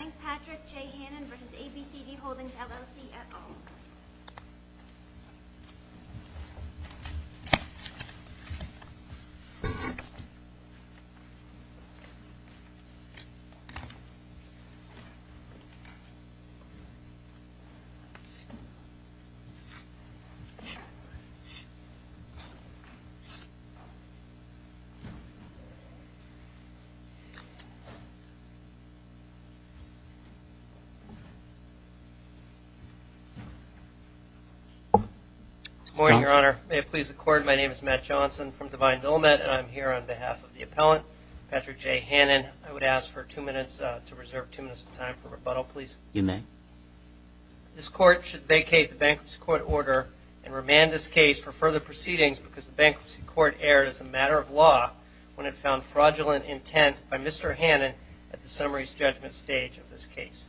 I thank Patrick J. Hannon v. ABCD Holdings, LLC, et al. Patrick J. Hannon v. ABCD Holdings, LLC, et al. Good morning, Your Honor. May it please the Court, my name is Matt Johnson from Divine Dillamant, and I'm here on behalf of the appellant, Patrick J. Hannon. I would ask for two minutes, to reserve two minutes of time for rebuttal please. You may. This court should vacate the Bankruptcy Court order and remand this case for further proceedings because the Bankruptcy Court erred as a matter of law when it found fraudulent intent by Mr. Hannon at the summaries judgment stage of this case.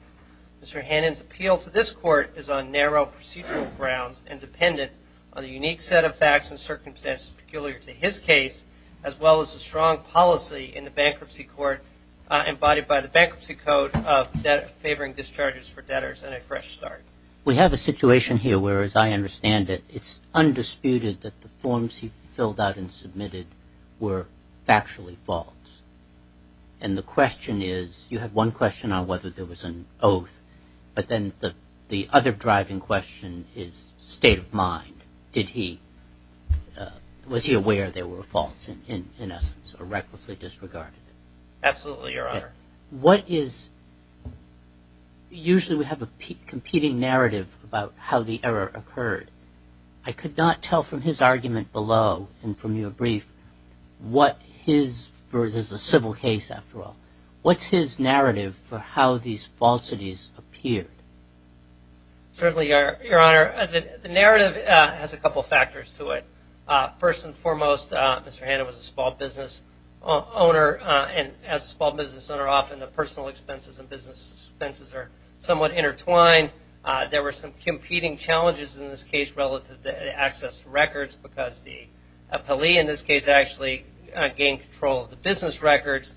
Mr. Hannon's appeal to this court is on narrow procedural grounds and dependent on the unique set of facts and circumstances peculiar to his case, as well as the strong policy in the Bankruptcy Court embodied by the Bankruptcy Code favoring discharges for debtors and a fresh start. We have a situation here where, as I understand it, it's undisputed that the forms he filled out and submitted were factually false. And the question is, you have one question on whether there was an oath, but then the other driving question is state of mind. Did he, was he aware there were faults in essence or recklessly disregarded it? Absolutely, Your Honor. What is, usually we have a competing narrative about how the error occurred. I could not tell from his argument below and from your brief what his, for this is a civil case after all, what's his narrative for how these falsities appeared? Certainly, Your Honor, the narrative has a couple of factors to it. First and foremost, Mr. Hanna was a small business owner, and as a small business owner often the personal expenses and business expenses are somewhat intertwined. There were some competing challenges in this case relative to access to records because the appellee in this case actually gained control of the business records.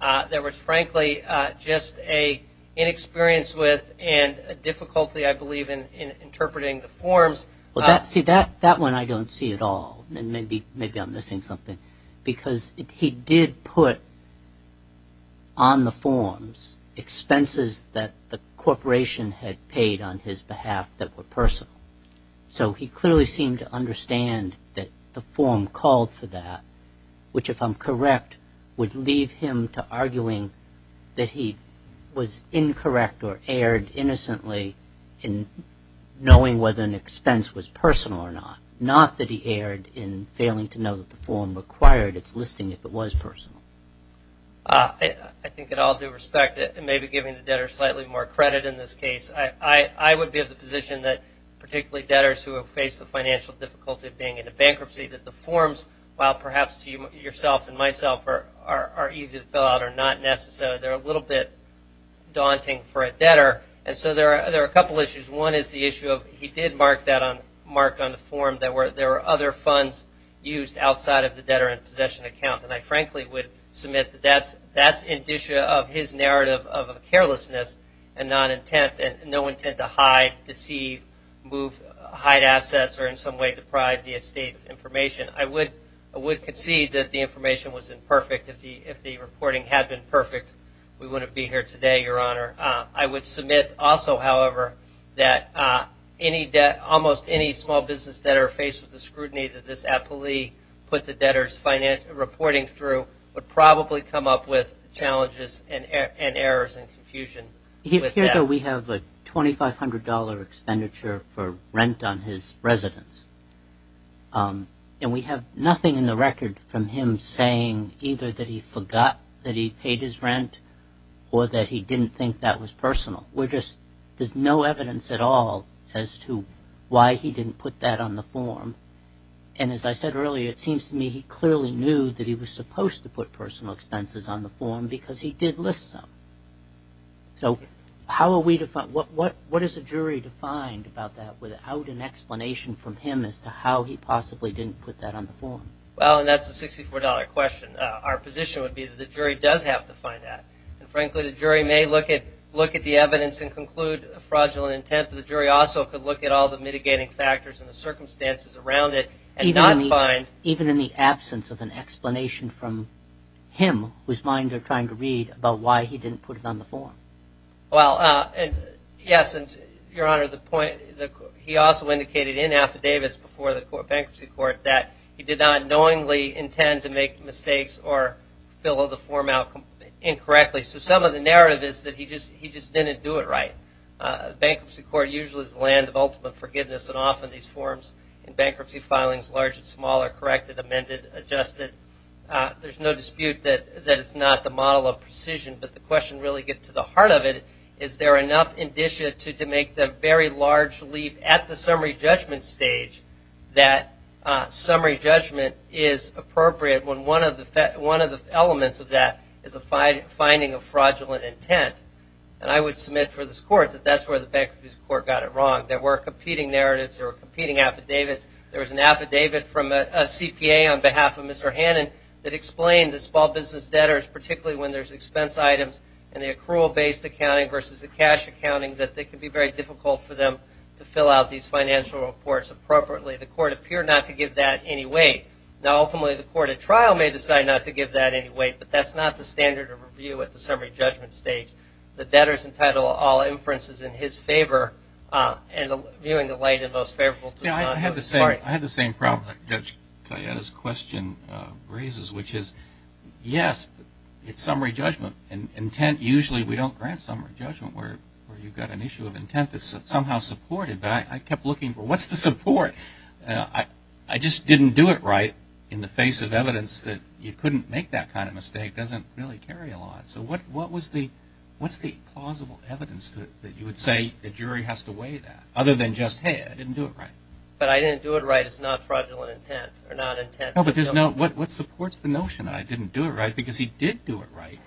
There was, frankly, just an inexperience with and a difficulty I believe in interpreting the forms. See, that one I don't see at all. Maybe I'm missing something because he did put on the forms expenses that the corporation had paid on his behalf that were personal. So he clearly seemed to understand that the form called for that, which if I'm correct would leave him to arguing that he was incorrect or erred innocently in knowing whether an expense was personal or not, not that he erred in failing to know that the form required its listing if it was personal. I think in all due respect and maybe giving the debtor slightly more credit in this case, I would be of the position that particularly debtors who have faced the financial difficulty of being in a bankruptcy that the forms, while perhaps to yourself and myself, are easy to fill out are not necessary. They're a little bit daunting for a debtor. And so there are a couple issues. One is the issue of he did mark that on the form that there were other funds used outside of the debtor in possession account. And I frankly would submit that that's indicia of his narrative of carelessness and non-intent and no intent to hide, deceive, move, hide assets or in some way deprive the estate of information. I would concede that the information was imperfect. If the reporting had been perfect, we wouldn't be here today, Your Honor. I would submit also, however, that almost any small business debtor faced with the scrutiny that this appellee put the debtor's reporting through would probably come up with challenges and errors and confusion. Here, though, we have a $2,500 expenditure for rent on his residence. And we have nothing in the record from him saying either that he forgot that he paid his rent or that he didn't think that was personal. We're just, there's no evidence at all as to why he didn't put that on the form. And as I said earlier, it seems to me he clearly knew that he was supposed to put personal expenses on the form because he did list some. So how are we to find, what is a jury to find about that without an explanation from him as to how he possibly didn't put that on the form? Well, and that's the $64 question. Our position would be that the jury does have to find that. And frankly, the jury may look at the evidence and conclude a fraudulent intent, but the jury also could look at all the mitigating factors and the circumstances around it and not find... Even in the absence of an explanation from him, whose mind they're trying to read about why he didn't put it on the form. Well, yes, and Your Honor, the point, he also indicated in affidavits before the bankruptcy court that he did not knowingly intend to make mistakes or fill the form out incorrectly. So some of the narrative is that he just didn't do it right. Bankruptcy court usually is the land of ultimate forgiveness, and often these forms in bankruptcy filings, large and small, are corrected, amended, adjusted. There's no dispute that it's not the model of precision, but the question really gets to the heart of it. Is there enough indicia to make the very large leap at the summary judgment stage that summary judgment is appropriate when one of the elements of that is a finding of fraudulent intent? And I would submit for this court that that's where the bankruptcy court got it wrong. There were competing narratives. There were competing affidavits. There was an affidavit from a CPA on behalf of Mr. Hannon that explained to small business debtors, particularly when there's expense items and the accrual-based accounting versus the cash accounting, that it can be very difficult for them to fill out these financial reports appropriately. The court appeared not to give that any weight. Now, ultimately, the court at trial may decide not to give that any weight, but that's not the standard of review at the summary judgment stage. The debtor is entitled to all inferences in his favor, and viewing the late and most favorable to the court. I had the same problem that Judge Cayetta's question raises, which is, yes, it's summary judgment. Intent, usually we don't grant summary judgment where you've got an issue of intent that's somehow supported, but I kept looking for what's the support? I just didn't do it right in the face of evidence that you couldn't make that kind of mistake. It doesn't really carry a lot. So what's the plausible evidence that you would say the jury has to weigh that, other than just, hey, I didn't do it right? But I didn't do it right. It's not fraudulent intent or not intent. No, but what supports the notion that I didn't do it right? Because he did do it right.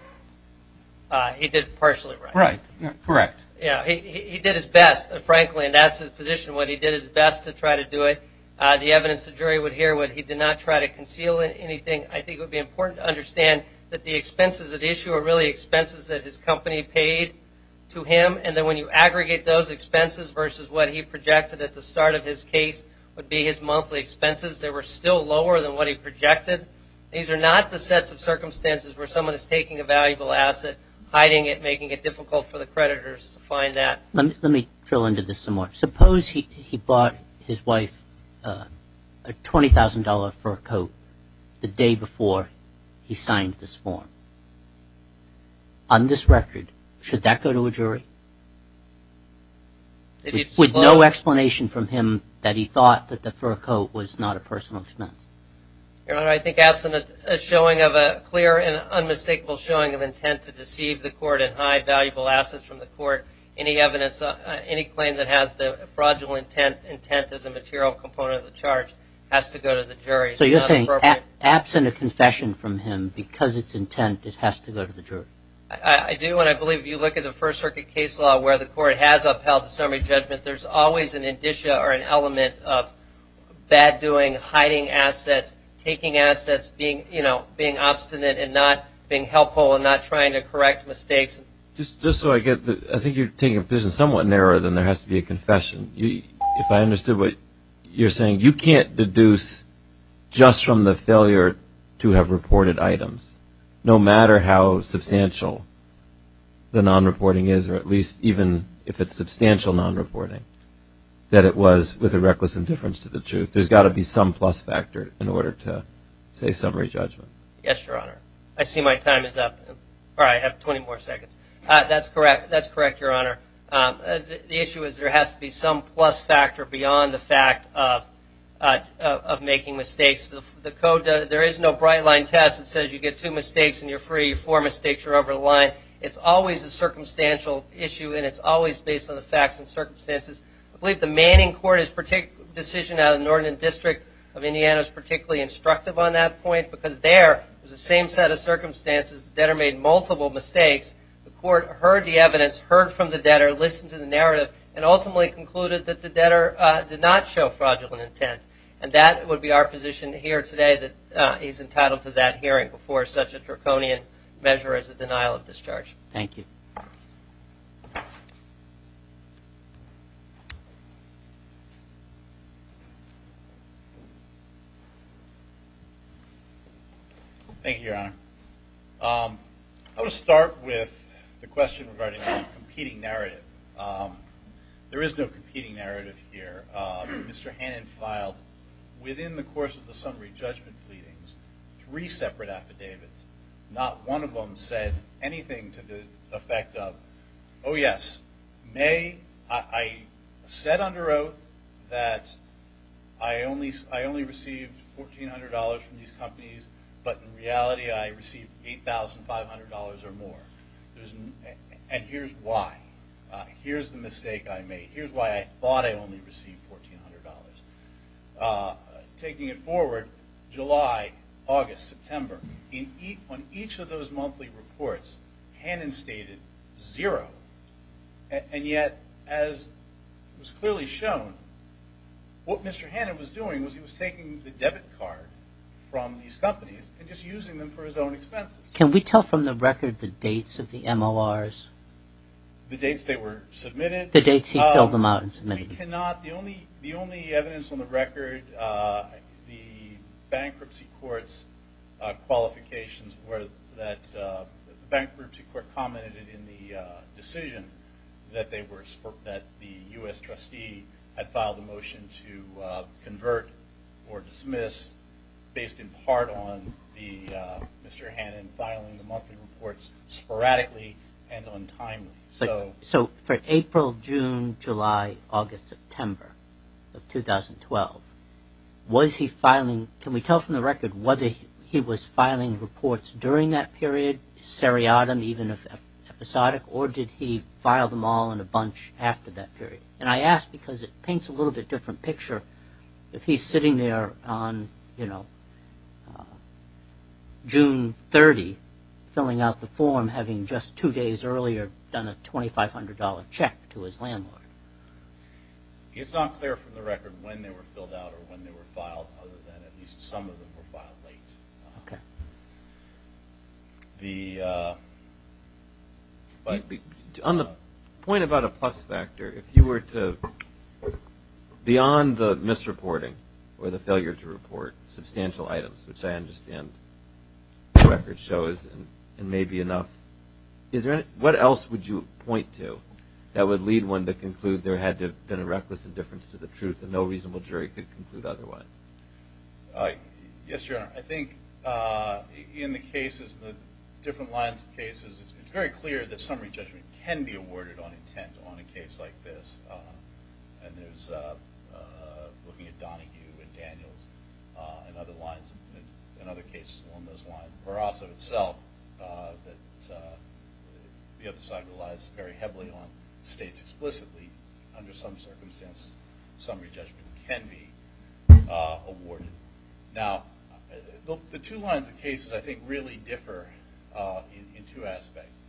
He did partially right. Right, correct. Yeah, he did his best, frankly, and that's his position, what he did his best to try to do it. The evidence the jury would hear when he did not try to conceal anything, I think it would be important to understand that the expenses at issue are really expenses that his company paid to him, and that when you aggregate those expenses versus what he projected at the start of his case would be his monthly expenses, they were still lower than what he projected. These are not the sets of circumstances where someone is taking a valuable asset, hiding it, making it difficult for the creditors to find that. Let me drill into this some more. Suppose he bought his wife a $20,000 fur coat the day before he signed this form. On this record, should that go to a jury? With no explanation from him that he thought that the fur coat was not a personal expense. Your Honor, I think absent a showing of a clear and unmistakable showing of intent to deceive the court and hide valuable assets from the court, any claim that has the fraudulent intent as a material component of the charge has to go to the jury. So you're saying absent a confession from him because it's intent, it has to go to the jury? I do, and I believe if you look at the First Circuit case law where the court has upheld the summary judgment, there's always an indicia or an element of bad doing, hiding assets, taking assets, being obstinate and not being helpful and not trying to correct mistakes. Just so I get this, I think you're taking a position somewhat narrower than there has to be a confession. If I understood what you're saying, you can't deduce just from the failure to have reported items, no matter how substantial the non-reporting is, or at least even if it's substantial non-reporting, that it was with a reckless indifference to the truth. There's got to be some plus factor in order to say summary judgment. Yes, Your Honor. I see my time is up, or I have 20 more seconds. That's correct, Your Honor. The issue is there has to be some plus factor beyond the fact of making mistakes. The code, there is no bright line test that says you get two mistakes and you're free, four mistakes, you're over the line. It's always a circumstantial issue, and it's always based on the facts and circumstances. I believe the Manning Court's decision out of the Northern District of Indiana is particularly instructive on that point because there is the same set of circumstances. The debtor made multiple mistakes. The court heard the evidence, heard from the debtor, listened to the narrative, and ultimately concluded that the debtor did not show fraudulent intent. And that would be our position here today, that he's entitled to that hearing before such a draconian measure as a denial of discharge. Thank you. Thank you, Your Honor. I want to start with the question regarding the competing narrative. There is no competing narrative here. Mr. Hannon filed, within the course of the summary judgment pleadings, three separate affidavits. Not one of them said anything to the effect of, oh, yes, I said under oath that I only received $1,400 from these companies, but in reality I received $8,500 or more. And here's why. Here's the mistake I made. Here's why I thought I only received $1,400. Taking it forward, July, August, September, on each of those monthly reports, Hannon stated zero. And yet, as was clearly shown, what Mr. Hannon was doing was he was taking the debit card from these companies and just using them for his own expenses. Can we tell from the record the dates of the MORs? The dates they were submitted? The dates he filled them out and submitted. We cannot. The only evidence on the record, the bankruptcy court's qualifications were that the bankruptcy court commented in the decision that the U.S. trustee had filed a motion to convert or dismiss based in part on Mr. Hannon filing the monthly reports sporadically and untimely. So for April, June, July, August, September of 2012, was he filing – can we tell from the record whether he was filing reports during that period, seriatim, even if episodic, or did he file them all in a bunch after that period? And I ask because it paints a little bit different picture. If he's sitting there on, you know, June 30, filling out the form having just two days earlier done a $2,500 check to his landlord. It's not clear from the record when they were filled out or when they were filed, other than at least some of them were filed late. Okay. The – On the point about a plus factor, if you were to, beyond the misreporting or the failure to report substantial items, which I understand the record shows and may be enough, is there any – what else would you point to that would lead one to conclude there had to have been a reckless indifference to the truth and no reasonable jury could conclude otherwise? Yes, Your Honor. I think in the cases, the different lines of cases, it's very clear that summary judgment can be awarded on intent on a case like this. And there's – looking at Donahue and Daniels and other lines and other cases along those lines. Or also itself that the other side relies very heavily on states explicitly, under some circumstances, summary judgment can be awarded. Now, the two lines of cases, I think, really differ in two aspects.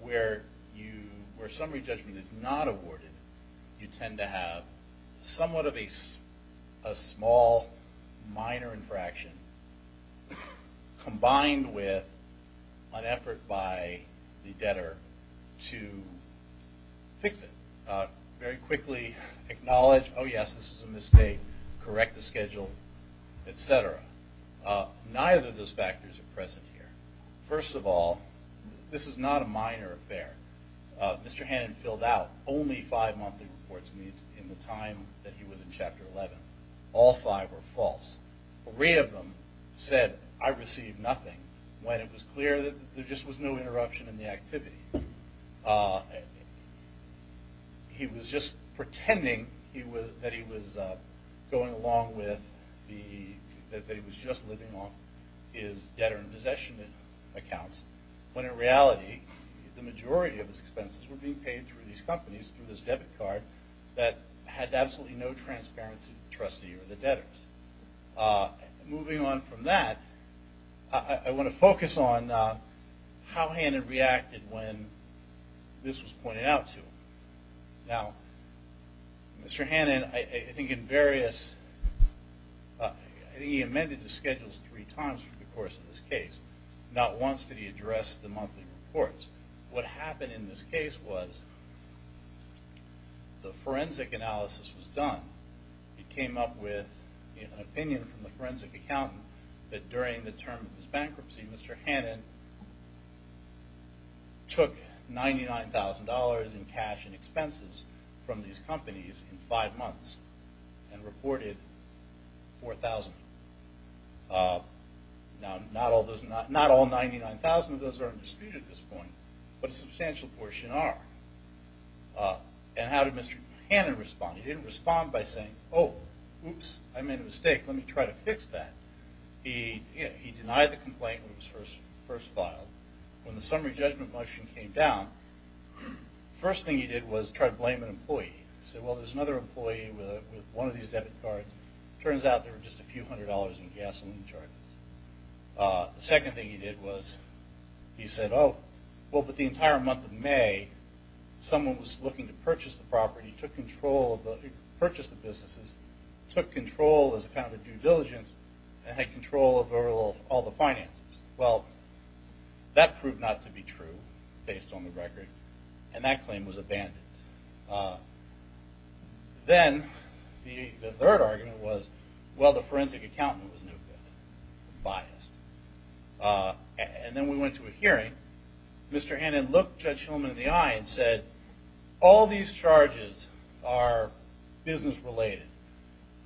Where you – where summary judgment is not awarded, you tend to have somewhat of a small, minor infraction combined with an effort by the debtor to fix it. Very quickly acknowledge, oh, yes, this is a mistake. Correct the schedule, et cetera. Neither of those factors are present here. First of all, this is not a minor affair. Mr. Hannon filled out only five monthly reports in the time that he was in Chapter 11. All five were false. Three of them said, I received nothing, when it was clear that there just was no interruption in the activity. He was just pretending he was – that he was going along with the – when in reality the majority of his expenses were being paid through these companies, through this debit card that had absolutely no transparency from the trustee or the debtors. Moving on from that, I want to focus on how Hannon reacted when this was pointed out to him. Now, Mr. Hannon, I think in various – I think he amended his schedules three times over the course of this case. Not once did he address the monthly reports. What happened in this case was the forensic analysis was done. It came up with an opinion from the forensic accountant that during the term of his bankruptcy, Mr. Hannon took $99,000 in cash and expenses from these companies in five months and reported $4,000. Now, not all those – not all 99,000 of those are in dispute at this point, but a substantial portion are. And how did Mr. Hannon respond? He didn't respond by saying, oh, oops, I made a mistake. Let me try to fix that. He denied the complaint when it was first filed. When the summary judgment motion came down, the first thing he did was try to blame an employee. He said, well, there's another employee with one of these debit cards. Turns out there were just a few hundred dollars in gasoline charges. The second thing he did was he said, oh, well, but the entire month of May, someone was looking to purchase the property, purchase the businesses, took control as kind of a due diligence, and had control over all the finances. Well, that proved not to be true based on the record, and that claim was abandoned. Then the third argument was, well, the forensic accountant was no good, biased. And then we went to a hearing. Mr. Hannon looked Judge Hillman in the eye and said, all these charges are business-related.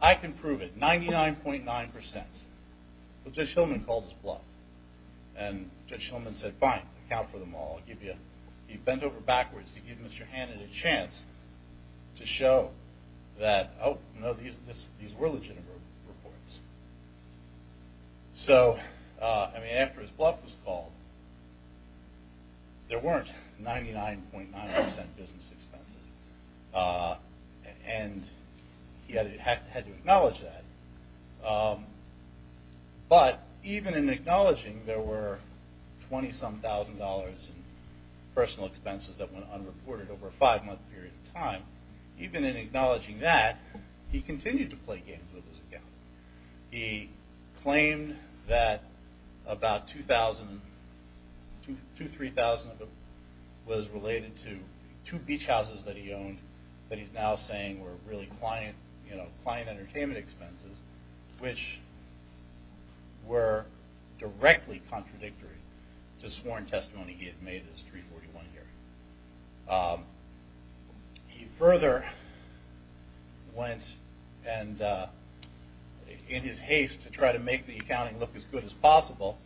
I can prove it, 99.9%. Well, Judge Hillman called his bluff. And Judge Hillman said, fine, account for them all. He bent over backwards to give Mr. Hannon a chance to show that, oh, no, these were legitimate reports. So, I mean, after his bluff was called, there weren't 99.9% business expenses. And he had to acknowledge that. But even in acknowledging there were $20-some-thousand in personal expenses that went unreported over a five-month period of time, even in acknowledging that, he continued to play games with his account. He claimed that about $2,000, $2,000, $3,000 was related to two beach houses that he owned that he's now saying were really client entertainment expenses, which were directly contradictory to sworn testimony he had made in his 341 hearing. He further went and, in his haste to try to make the accounting look as good as possible,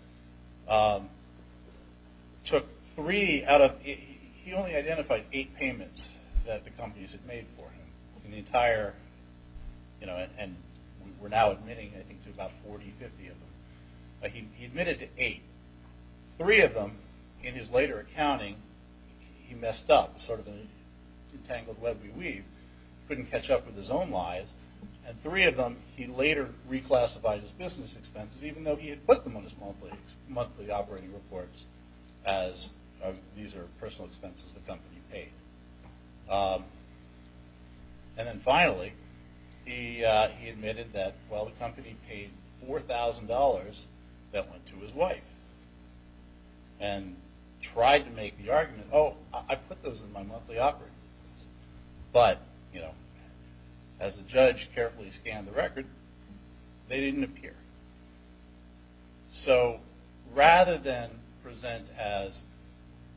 took three out of – he only identified eight payments that the companies had made for him. And the entire – and we're now admitting, I think, to about 40, 50 of them. But he admitted to eight. Three of them, in his later accounting, he messed up. Sort of an entangled web we weave. Couldn't catch up with his own lies. And three of them, he later reclassified as business expenses, even though he had put them on his monthly operating reports as these are personal expenses the company paid. And then finally, he admitted that, well, the company paid $4,000 that went to his wife and tried to make the argument, oh, I put those in my monthly operating reports. But, you know, as the judge carefully scanned the record, they didn't appear. So rather than present as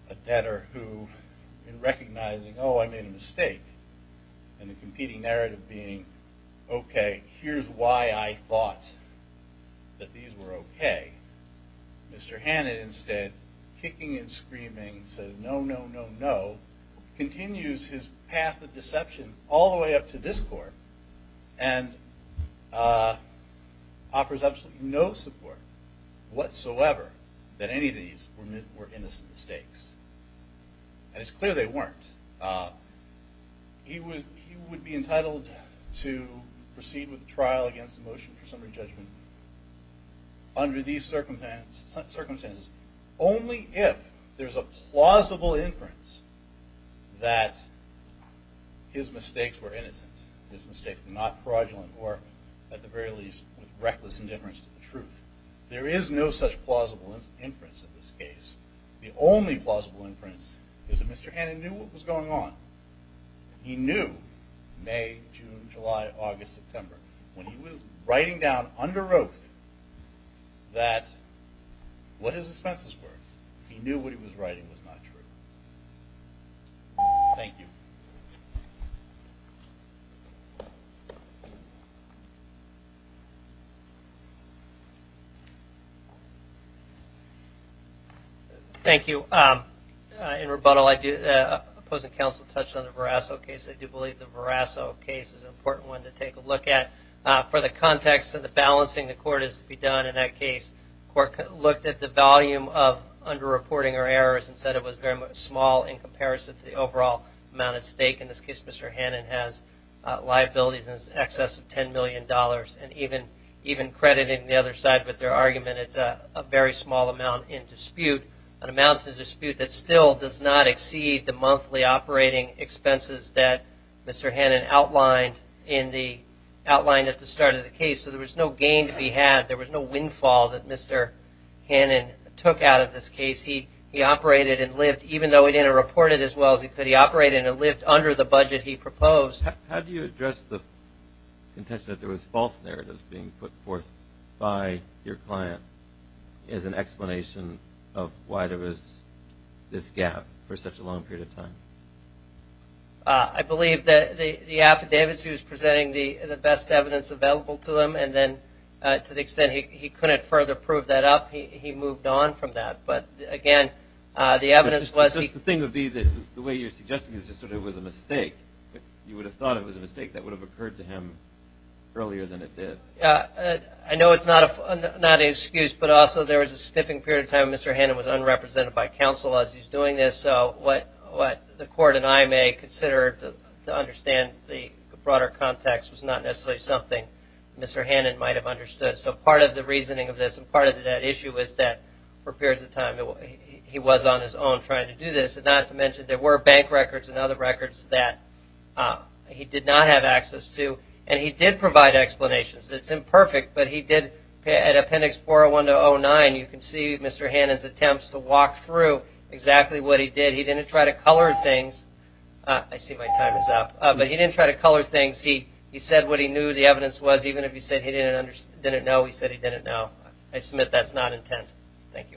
a debtor who, in recognizing, oh, I made a mistake, and the competing narrative being, okay, here's why I thought that these were okay, Mr. Hannan instead, kicking and screaming, says no, no, no, no, continues his path of deception all the way up to this court and offers absolutely no support whatsoever that any of these were innocent mistakes. And it's clear they weren't. He would be entitled to proceed with trial against the motion for summary judgment under these circumstances only if there's a plausible inference that his mistakes were innocent, his mistakes were not fraudulent, or at the very least with reckless indifference to the truth. There is no such plausible inference in this case. The only plausible inference is that Mr. Hannan knew what was going on. He knew May, June, July, August, September. When he was writing down under oath that what his offenses were, he knew what he was writing was not true. Thank you. Thank you. In rebuttal, the opposing counsel touched on the Verasso case. I do believe the Verasso case is an important one to take a look at. For the context of the balancing the court has to be done in that case, the court looked at the volume of underreporting or errors and said it was very small in comparison to the overall amount at stake. In this case, Mr. Hannan has liabilities in excess of $10 million. And even crediting the other side with their argument, it's a very small amount in dispute, an amount in dispute that still does not exceed the monthly operating expenses that Mr. Hannan outlined at the start of the case. So there was no gain to be had. There was no windfall that Mr. Hannan took out of this case. He operated and lived, even though he didn't report it as well as he could, he operated and lived under the budget he proposed. How do you address the intention that there was false narratives being put forth by your client as an explanation of why there was this gap for such a long period of time? I believe that the affidavits he was presenting, the best evidence available to him, and then to the extent he couldn't further prove that up, he moved on from that. But, again, the evidence was he – It's just the thing would be that the way you're suggesting is just sort of it was a mistake. You would have thought it was a mistake. That would have occurred to him earlier than it did. I know it's not an excuse, but also there was a stiffing period of time Mr. Hannan was unrepresented by counsel as he's doing this. So what the court and I may consider to understand the broader context was not necessarily something Mr. Hannan might have understood. So part of the reasoning of this and part of that issue is that for periods of time he was on his own trying to do this, not to mention there were bank records and other records that he did not have access to. And he did provide explanations. It's imperfect, but he did at Appendix 401-09, you can see Mr. Hannan's attempts to walk through exactly what he did. He didn't try to color things. I see my time is up. But he didn't try to color things. He said what he knew the evidence was. Even if he said he didn't know, he said he didn't know. I submit that's not intent. Thank you.